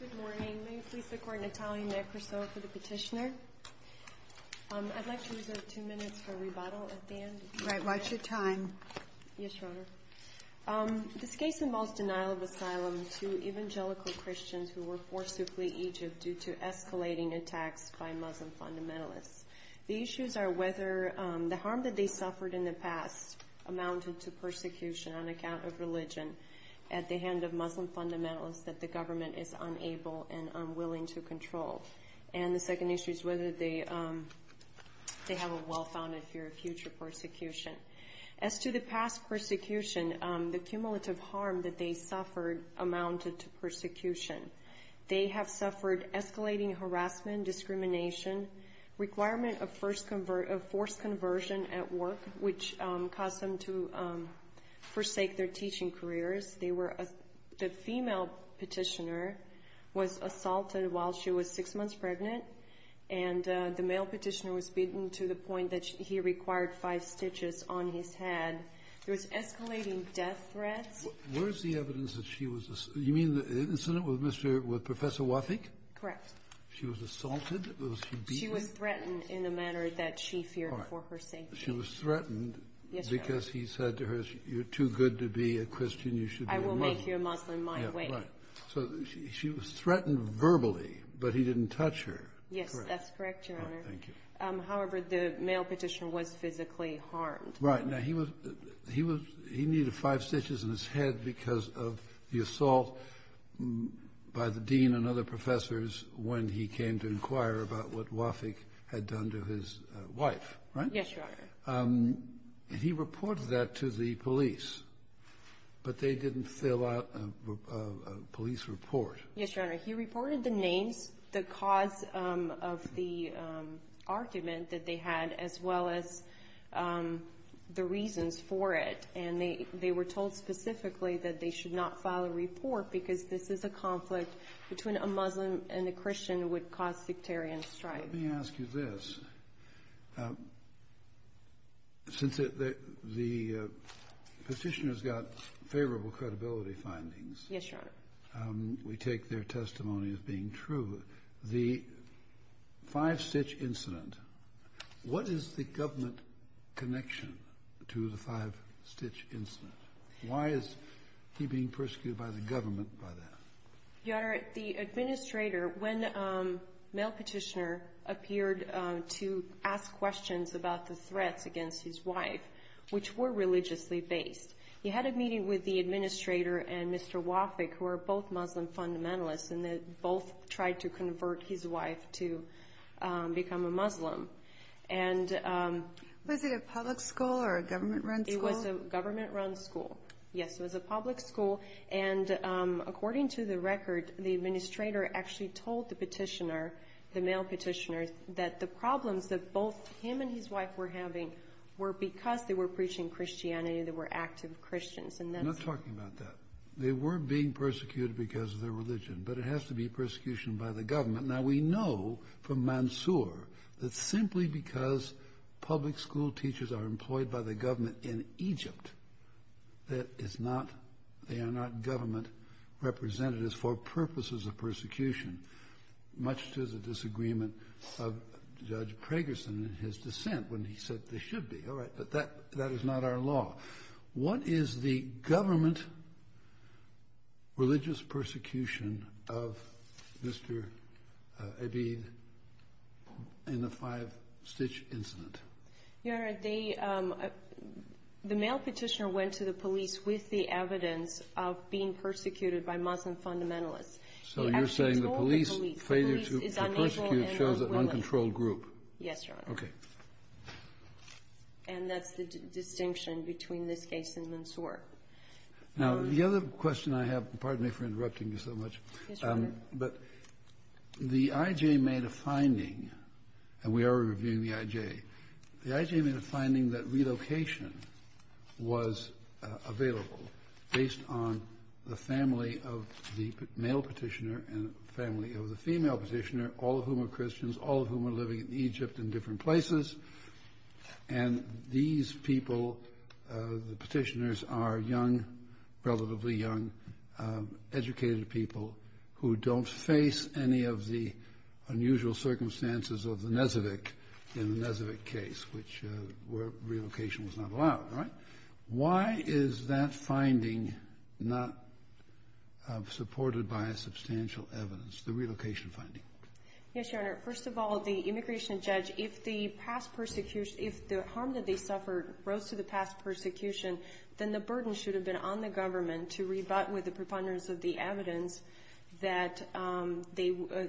Good morning. May you please support Natalia Nekrasov for the petitioner? I'd like to reserve two minutes for rebuttal at the end. Right. Watch your time. Yes, Your Honor. This case involves denial of asylum to evangelical Christians who were forced to flee Egypt due to escalating attacks by Muslim fundamentalists. The issues are whether the harm that they suffered in the past amounted to persecution on account of religion at the hand of Muslim fundamentalists that the government is unable and unwilling to control. And the second issue is whether they have a well-founded fear of future persecution. As to the past persecution, the cumulative harm that they suffered amounted to persecution. They have suffered escalating harassment, discrimination, requirement of forced conversion at work, which caused them to forsake their teaching careers. The female petitioner was assaulted while she was six months pregnant, and the male petitioner was beaten to the point that he required five stitches on his head. There was escalating death threats. Where is the evidence that she was—you mean the incident with Professor Wafik? Correct. She was assaulted? She was threatened in a manner that she feared for her safety. She was threatened because he said to her, you're too good to be a Christian, you should be a Muslim. I will make you a Muslim my way. So she was threatened verbally, but he didn't touch her. Yes, that's correct, Your Honor. All right, thank you. However, the male petitioner was physically harmed. Right. Now, he needed five stitches on his head because of the assault by the dean and other professors when he came to inquire about what Wafik had done to his wife, right? Yes, Your Honor. And he reported that to the police, but they didn't fill out a police report. Yes, Your Honor. He reported the names, the cause of the argument that they had, as well as the reasons for it. And they were told specifically that they should not file a report because this is a conflict between a Muslim and a Christian that would cause sectarian strife. Let me ask you this. Since the petitioner's got favorable credibility findings. Yes, Your Honor. We take their testimony as being true. The five-stitch incident, what is the government connection to the five-stitch incident? Why is he being persecuted by the government by that? Your Honor, the administrator, when the male petitioner appeared to ask questions about the threats against his wife, which were religiously based, he had a meeting with the administrator and Mr. Wafik, who are both Muslim fundamentalists, and they both tried to convert his wife to become a Muslim. Was it a public school or a government-run school? It was a government-run school. Yes, it was a public school. And according to the record, the administrator actually told the petitioner, the male petitioner, that the problems that both him and his wife were having were because they were preaching Christianity and they were active Christians. I'm not talking about that. They were being persecuted because of their religion, but it has to be persecution by the government. Now, we know from Mansour that simply because public school teachers are employed by the government in Egypt, they are not government representatives for purposes of persecution, much to the disagreement of Judge Pragerson in his dissent when he said they should be. All right, but that is not our law. What is the government religious persecution of Mr. Abid in the five-stitch incident? Your Honor, the male petitioner went to the police with the evidence of being persecuted by Muslim fundamentalists. So you're saying the police failure to persecute shows an uncontrolled group. Yes, Your Honor. Okay. And that's the distinction between this case and Mansour. Now, the other question I have, pardon me for interrupting you so much. Yes, Your Honor. But the IJ made a finding, and we are reviewing the IJ. The IJ made a finding that relocation was available based on the family of the male petitioner and the family of the female petitioner, all of whom are Christians, all of whom are living in Egypt in different places. And these people, the petitioners, are young, relatively young, educated people who don't face any of the unusual circumstances of the Nezevic in the Nezevic case, which relocation was not allowed. All right? Why is that finding not supported by substantial evidence, the relocation finding? Yes, Your Honor. First of all, the immigration judge, if the past persecution, if the harm that they suffered rose to the past persecution, then the burden should have been on the government to rebut with the preponderance of the evidence that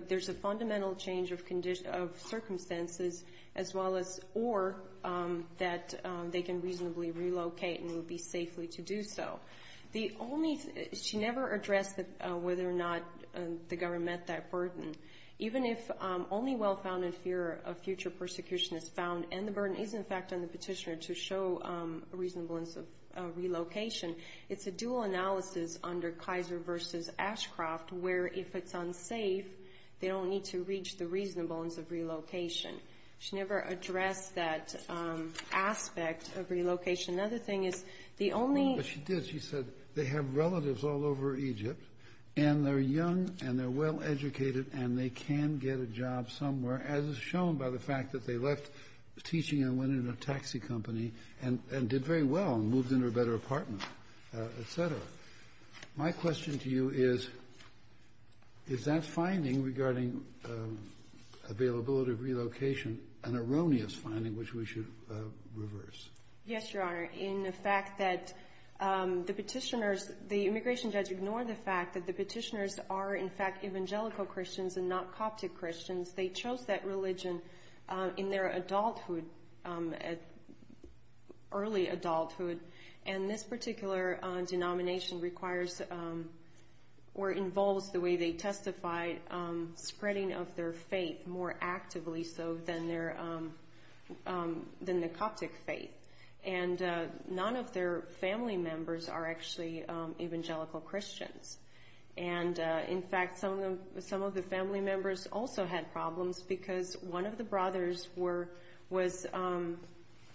there's a fundamental change of circumstances as well as or that they can reasonably relocate and will be safely to do so. The only thing, she never addressed whether or not the government met that burden. Even if only well-founded fear of future persecution is found and the burden is, in fact, on the petitioner to show a reasonableness of relocation, it's a dual analysis under Kaiser v. Ashcroft where if it's unsafe, they don't need to reach the reasonableness of relocation. She never addressed that aspect of relocation. Another thing is, the only ---- But she did. She said they have relatives all over Egypt, and they're young, and they're well-educated, and they can get a job somewhere, as is shown by the fact that they left teaching and went into a taxi company and did very well and moved into a better apartment, et cetera. My question to you is, is that finding regarding availability of relocation an erroneous finding which we should reverse? Yes, Your Honor. In the fact that the petitioners, the immigration judge ignored the fact that the petitioners are, in fact, evangelical Christians and not Coptic Christians. They chose that religion in their adulthood, early adulthood. And this particular denomination requires or involves the way they testified, spreading of their faith more actively so than the Coptic faith. And none of their family members are actually evangelical Christians. And, in fact, some of the family members also had problems because one of the brothers was ----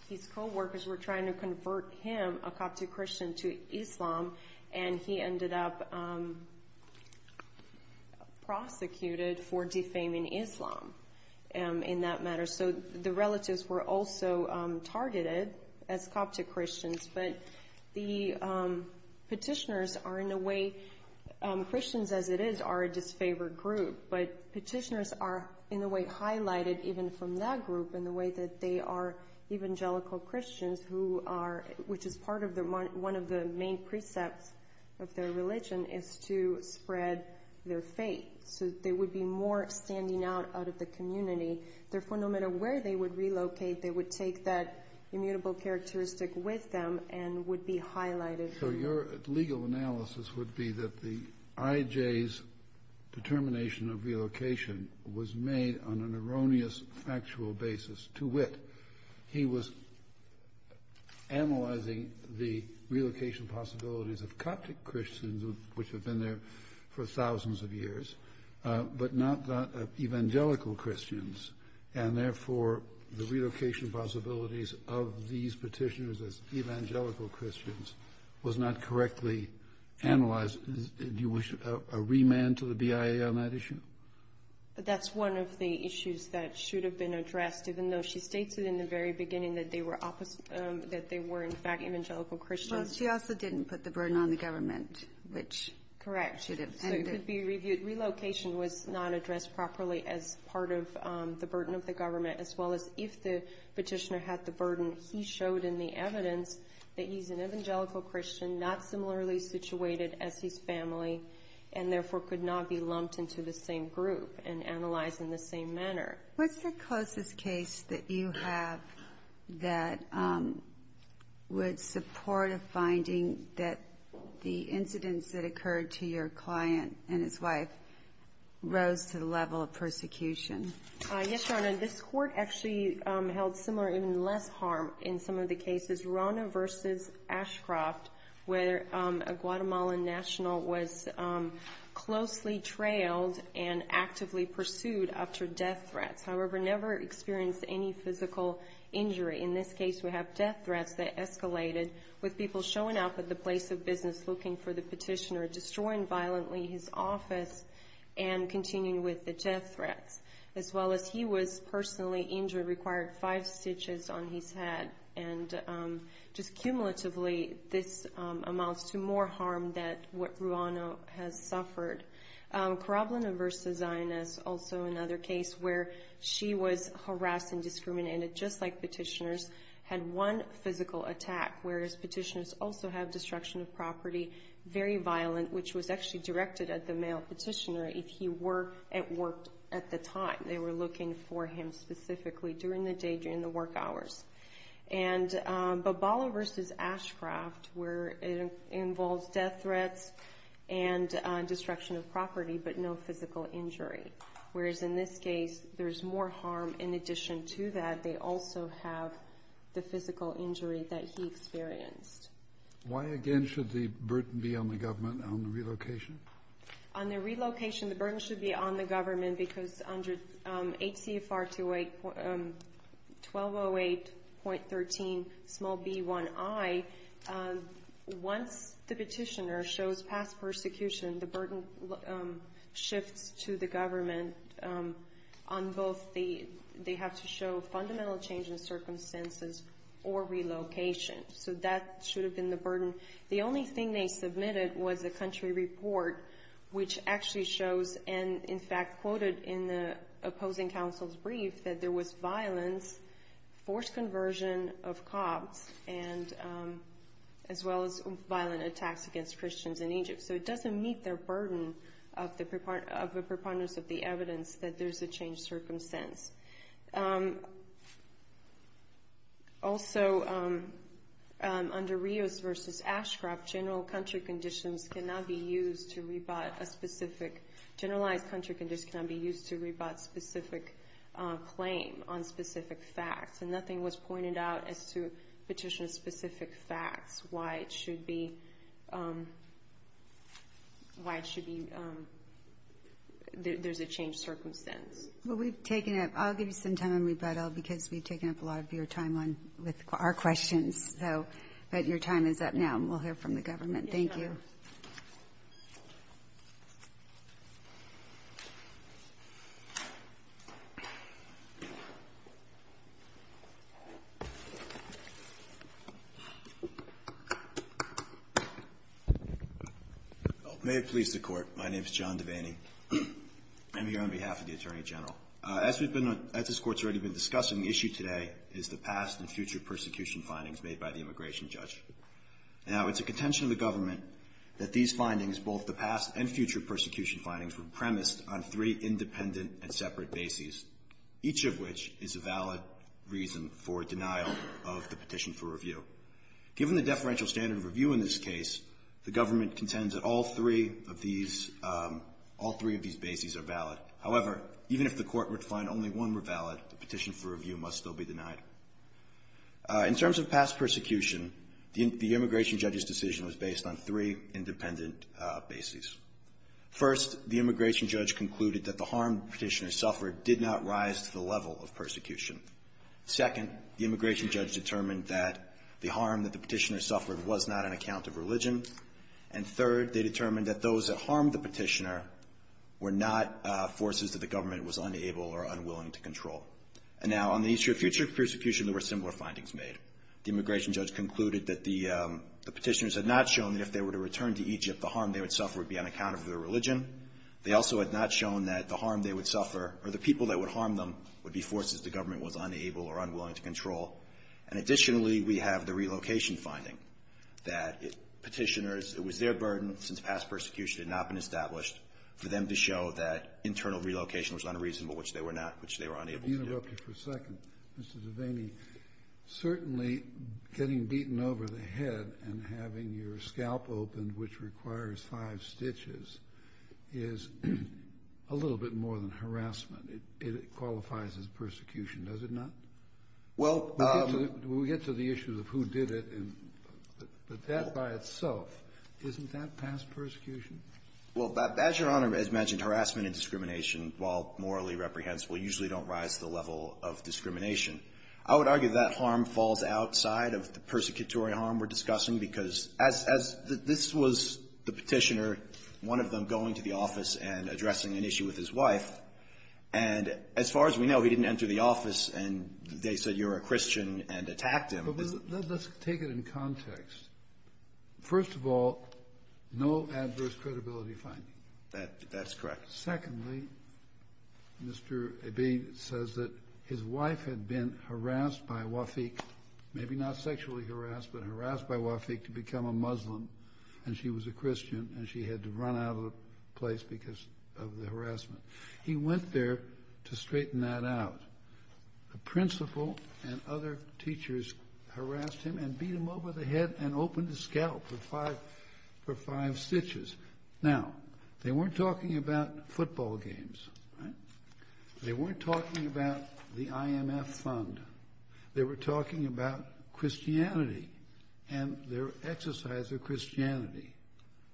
his co-workers were trying to convert him, a Coptic Christian, to Islam, and he ended up prosecuted for defaming Islam in that matter. So the relatives were also targeted as Coptic Christians. But the petitioners are, in a way, Christians as it is, are a disfavored group. But petitioners are, in a way, highlighted even from that group in the way that they are evangelical Christians, which is part of one of the main precepts of their religion, is to spread their faith so they would be more standing out out of the community. Therefore, no matter where they would relocate, they would take that immutable characteristic with them and would be highlighted. So your legal analysis would be that the IJ's determination of relocation was made on an erroneous factual basis to wit. He was analyzing the relocation possibilities of Coptic Christians, which have been there for thousands of years, but not evangelical Christians, and therefore the relocation possibilities of these petitioners as evangelical Christians was not correctly analyzed. Do you wish a remand to the BIA on that issue? That's one of the issues that should have been addressed, even though she states it in the very beginning that they were in fact evangelical Christians. Well, she also didn't put the burden on the government, which should have ended. Correct. Relocation was not addressed properly as part of the burden of the government, as well as if the petitioner had the burden. He showed in the evidence that he's an evangelical Christian, not similarly situated as his family, and therefore could not be lumped into the same group and analyzed in the same manner. What's the closest case that you have that would support a finding that the client and his wife rose to the level of persecution? Yes, Your Honor. This court actually held similar, even less harm in some of the cases. Rana v. Ashcroft, where a Guatemalan national was closely trailed and actively pursued after death threats, however, never experienced any physical injury. In this case, we have death threats that escalated with people showing up at the place of business looking for the petitioner, destroying violently his office, and continuing with the death threats. As well as he was personally injured, required five stitches on his head, and just cumulatively, this amounts to more harm than what Ruano has suffered. Karablina v. Zaynaz, also another case where she was harassed and discriminated, just like petitioners, had one physical attack, whereas petitioners also have destruction of property, very violent, which was actually directed at the male petitioner if he were at work at the time. They were looking for him specifically during the day, during the work hours. And Bobala v. Ashcroft, where it involves death threats and destruction of property but no physical injury, whereas in this case there's more harm in addition to that. They also have the physical injury that he experienced. Why, again, should the burden be on the government on the relocation? On the relocation, the burden should be on the government because under HCFR 1208.13b1i, once the petitioner shows past persecution, the burden shifts to the government. They have to show fundamental change in circumstances or relocation. So that should have been the burden. The only thing they submitted was a country report, which actually shows, and in fact quoted in the opposing counsel's brief, that there was violence, forced conversion of cops, as well as violent attacks against Christians in Egypt. So it doesn't meet their burden of the preponderance of the evidence that there's a changed circumstance. Also, under Rios v. Ashcroft, generalized country conditions cannot be used to rebut specific claim on specific facts. And nothing was pointed out as to petitioner-specific facts, why it should be there's a changed circumstance. Well, I'll give you some time on rebuttal because we've taken up a lot of your time with our questions. But your time is up now, and we'll hear from the government. Thank you. May it please the Court. My name is John Devaney. I'm here on behalf of the Attorney General. As we've been, as this Court's already been discussing, the issue today is the past and future persecution findings made by the immigration judge. Now, it's a contention of the government that these findings, both the past and future persecution findings, were premised on three independent and separate bases, each of which is a valid reason for denial of the petition for review. Given the deferential standard of review in this case, the government contends that all three of these, all three of these bases are valid. However, even if the Court were to find only one were valid, the petition for review must still be denied. In terms of past persecution, the immigration judge's decision was based on three independent bases. First, the immigration judge concluded that the harm the petitioner suffered did not rise to the level of persecution. Second, the immigration judge determined that the harm that the petitioner suffered was not an account of religion. And third, they determined that those that harmed the petitioner were not forces that the government was unable or unwilling to control. And now, on the issue of future persecution, there were similar findings made. The immigration judge concluded that the petitioners had not shown that if they were to return to Egypt, the harm they would suffer would be on account of their religion. They also had not shown that the harm they would suffer, or the people that would harm them, would be forces the government was unable or unwilling to control. And additionally, we have the relocation finding, that petitioners, it was their burden, since past persecution had not been established, for them to show that internal relocation was not a reason for which they were not, which they were unable to do. Kennedy, I want to interrupt you for a second. Mr. DeVaney, certainly getting beaten over the head and having your scalp opened, which requires five stitches, is a little bit more than harassment. It qualifies as persecution, does it not? Well, but the question is, we get to the issue of who did it, but that by itself, isn't that past persecution? Well, as Your Honor has mentioned, harassment and discrimination, while morally reprehensible, usually don't rise to the level of discrimination. I would argue that harm falls outside of the persecutory harm we're discussing, because as this was the petitioner, one of them going to the office and addressing an issue with his wife, and as far as we know, he didn't enter the office and they said you're a Christian and attacked him. But let's take it in context. First of all, no adverse credibility finding. That's correct. Secondly, Mr. DeVaney says that his wife had been harassed by Wafik, maybe not sexually harassed, but harassed by Wafik to become a Muslim, and she was a Christian and she had to run out of the place because of the harassment. He went there to straighten that out. The principal and other teachers harassed him and beat him over the head and opened his scalp for five stitches. Now, they weren't talking about football games, right? They weren't talking about the IMF fund. They were talking about Christianity and their exercise of Christianity.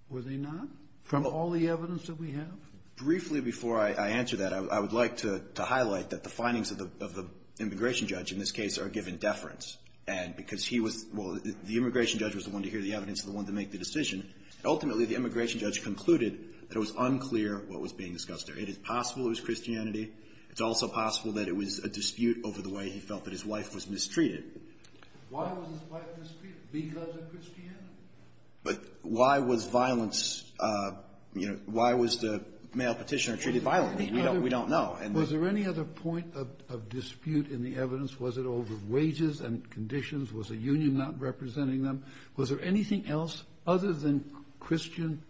Were they not, from all the evidence that we have? Briefly before I answer that, I would like to highlight that the findings of the immigration judge in this case are given deference, and because he was the immigration judge was the one to hear the evidence and the one to make the decision. Ultimately, the immigration judge concluded that it was unclear what was being discussed there. It is possible it was Christianity. It's also possible that it was a dispute over the way he felt that his wife was mistreated. Why was his wife mistreated? Because of Christianity? But why was violence, you know, why was the male Petitioner treated violently? We don't know. Was there any other point of dispute in the evidence? Was it over wages and conditions? Was the union not representing them? Was there anything else other than Christian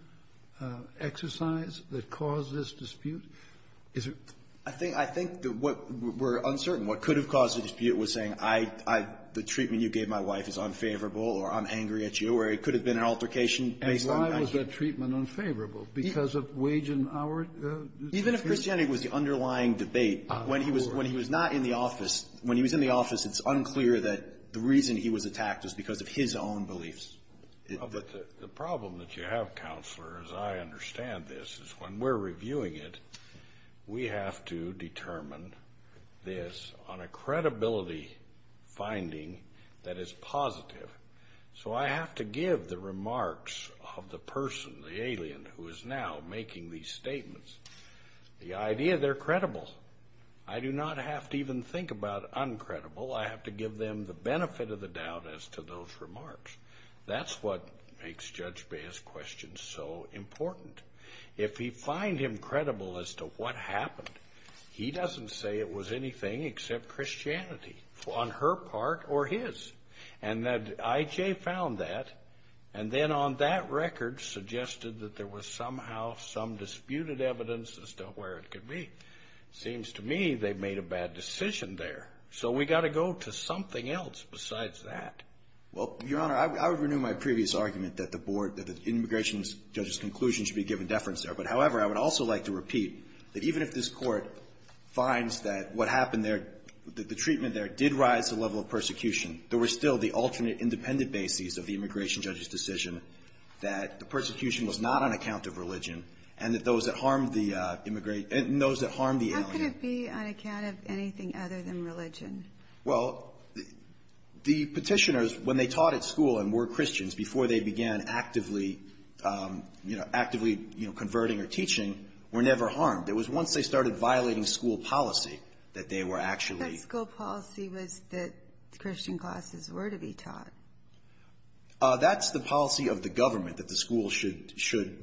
exercise that caused this dispute? Is there — I think that what we're uncertain, what could have caused the dispute was saying, I — I — the treatment you gave my wife is unfavorable, or I'm angry at you, or it could have been an altercation based on — And why was that treatment unfavorable? Because of wage and hour disputes? Even if Christianity was the underlying debate, when he was — when he was not in the office, when he was in the office, it's unclear that the reason he was attacked is because of his own beliefs. But the problem that you have, Counselor, as I understand this, is when we're reviewing it, we have to determine this on a credibility finding that is positive. So I have to give the remarks of the person, the alien, who is now making these statements, the idea they're credible. I do not have to even think about uncredible. I have to give them the benefit of the doubt as to those remarks. That's what makes Judge Bea's question so important. If we find him credible as to what happened, he doesn't say it was anything except Christianity on her part or his. And that I.J. found that, and then on that record suggested that there was somehow some disputed evidence as to where it could be. Seems to me they made a bad decision there. So we've got to go to something else besides that. Well, Your Honor, I would renew my previous argument that the board, that the immigration judge's conclusion should be given deference there. But, however, I would also like to repeat that even if this Court finds that what happened there, that the treatment there did rise to the level of persecution, there was still the alternate independent basis of the immigration judge's decision that the persecution was not on account of religion and that those that harmed the immigrant and those that harmed the alien. What could it be on account of anything other than religion? Well, the Petitioners, when they taught at school and were Christians, before they began actively, you know, actively, you know, converting or teaching, were never harmed. It was once they started violating school policy that they were actually. That school policy was that Christian classes were to be taught. That's the policy of the government, that the school should,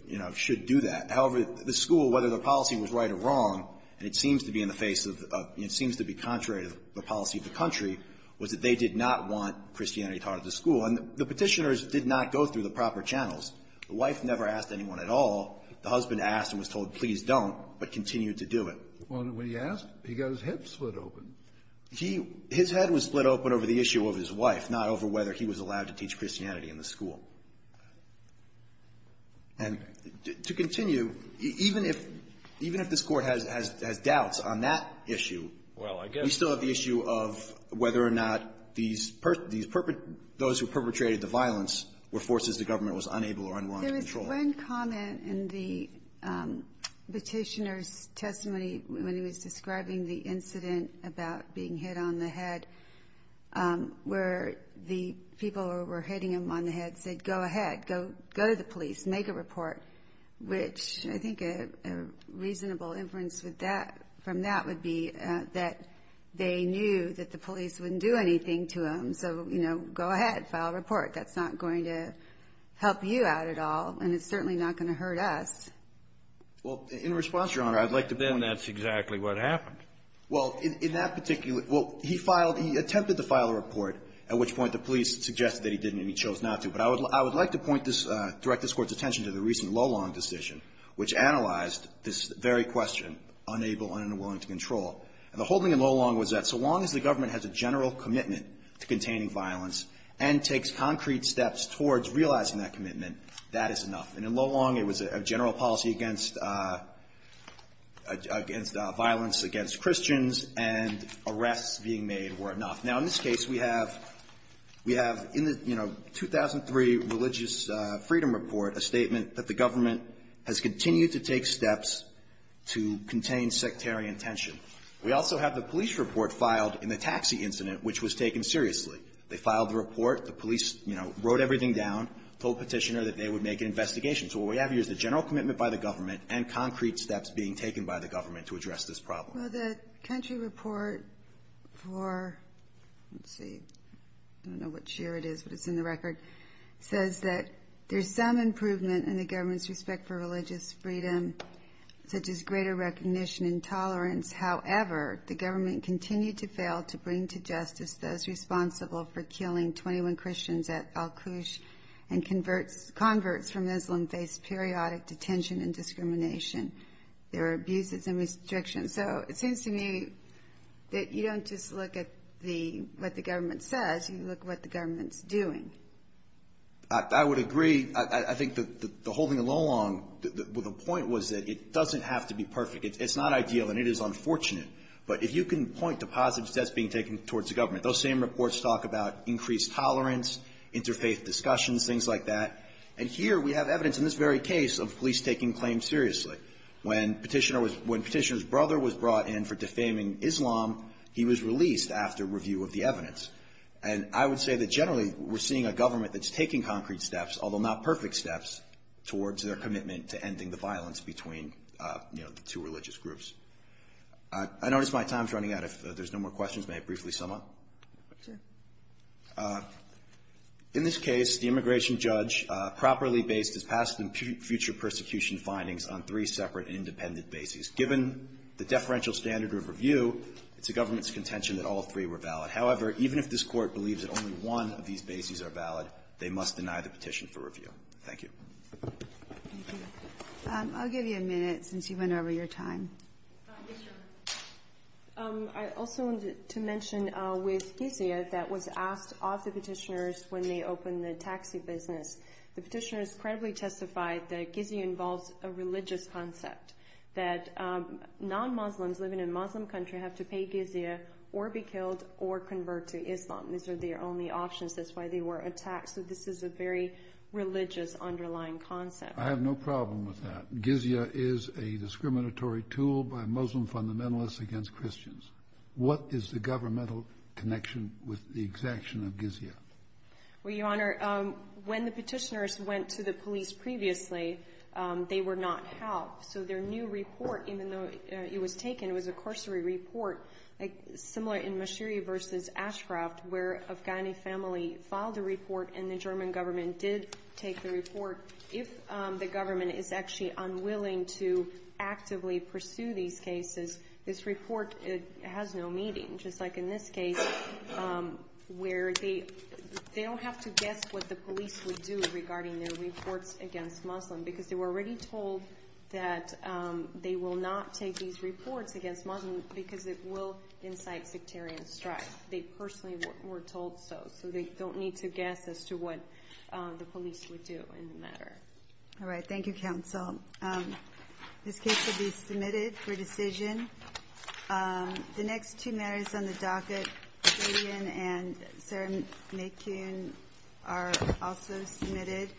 you know, should do that. However, the school, whether the policy was right or wrong, and it seems to be in the face of, you know, it seems to be contrary to the policy of the country, was that they did not want Christianity taught at the school. And the Petitioners did not go through the proper channels. The wife never asked anyone at all. The husband asked and was told, please don't, but continued to do it. Well, when he asked, he got his head split open. He – his head was split open over the issue of his wife, not over whether he was allowed to teach Christianity in the school. And to continue, even if – even if this Court has doubts on that issue, we still have the issue of whether or not these – those who perpetrated the violence were forces the government was unable or unwilling to control. There was one comment in the Petitioners' testimony when he was describing the incident about being hit on the head where the people who were hitting him on the head said, go ahead, go – go to the police, make a report, which I think a reasonable inference with that – from that would be that they knew that the police wouldn't do anything to him. So, you know, go ahead, file a report. That's not going to help you out at all, and it's certainly not going to hurt us. Well, in response, Your Honor, I'd like to – Then that's exactly what happened. Well, in that particular – well, he filed – he attempted to file a report, at which point the police suggested that he didn't, and he chose not to. But I would like to point this – direct this Court's attention to the recent Lolong decision, which analyzed this very question, unable and unwilling to control. And the whole thing in Lolong was that so long as the government has a general commitment to containing violence and takes concrete steps towards realizing that commitment, that is enough. And in Lolong, it was a general policy against – against violence against Christians, and arrests being made were enough. Now, in this case, we have – we have in the, you know, 2003 religious freedom report a statement that the government has continued to take steps to contain sectarian tension. We also have the police report filed in the taxi incident, which was taken seriously. They filed the report. The police, you know, wrote everything down, told Petitioner that they would make an investigation. So what we have here is a general commitment by the government and concrete steps being taken by the government to address this problem. Well, the country report for – let's see. I don't know what year it is, but it's in the record – says that there's some improvement in the government's respect for religious freedom, such as greater recognition and tolerance. However, the government continued to fail to bring to justice those responsible for killing 21 Christians at Al-Qush, and converts – converts from Islam face periodic detention and discrimination. There are abuses and restrictions. So it seems to me that you don't just look at the – what the government says. You look at what the government's doing. I would agree. I think the whole thing along – well, the point was that it doesn't have to be perfect. It's not ideal, and it is unfortunate. But if you can point to positive steps being taken towards the government, those same reports talk about increased tolerance, interfaith discussions, things like that. And here we have evidence in this very case of police taking claims seriously. When Petitioner was – when Petitioner's brother was brought in for defaming Islam, he was released after review of the evidence. And I would say that generally we're seeing a government that's taking concrete steps, although not perfect steps, towards their commitment to ending the violence between, you know, the two religious groups. I notice my time's running out. If there's no more questions, may I briefly sum up? Sure. In this case, the immigration judge properly based his past and future prosecution findings on three separate independent bases. Given the deferential standard of review, it's the government's contention that all three were valid. However, even if this Court believes that only one of these bases are valid, they must deny the petition for review. Thank you. I'll give you a minute since you went over your time. I also wanted to mention with Gizia that was asked of the Petitioners when they opened the taxi business. The Petitioners credibly testified that Gizia involves a religious concept, that non-Muslims living in a Muslim country have to pay Gizia or be killed or convert to Islam. These are their only options. That's why they were attacked. So this is a very religious underlying concept. I have no problem with that. Gizia is a discriminatory tool by Muslim fundamentalists against Christians. What is the governmental connection with the exaction of Gizia? Well, Your Honor, when the Petitioners went to the police previously, they were not helped. So their new report, even though it was taken, it was a cursory report similar in Mashiri v. Ashcroft where Afghani family filed a report and the German government did take the report. If the government is actually unwilling to actively pursue these cases, this report has no meaning. Just like in this case where they don't have to guess what the police would do regarding their reports against Muslims because they were already told that they will not take these reports against Muslims because it will incite sectarian strife. They personally were told so. So they don't need to guess as to what the police would do in the matter. All right. Thank you, counsel. This case will be submitted for decision. The next two matters on the docket, Gideon and Sarah Macune, are also submitted.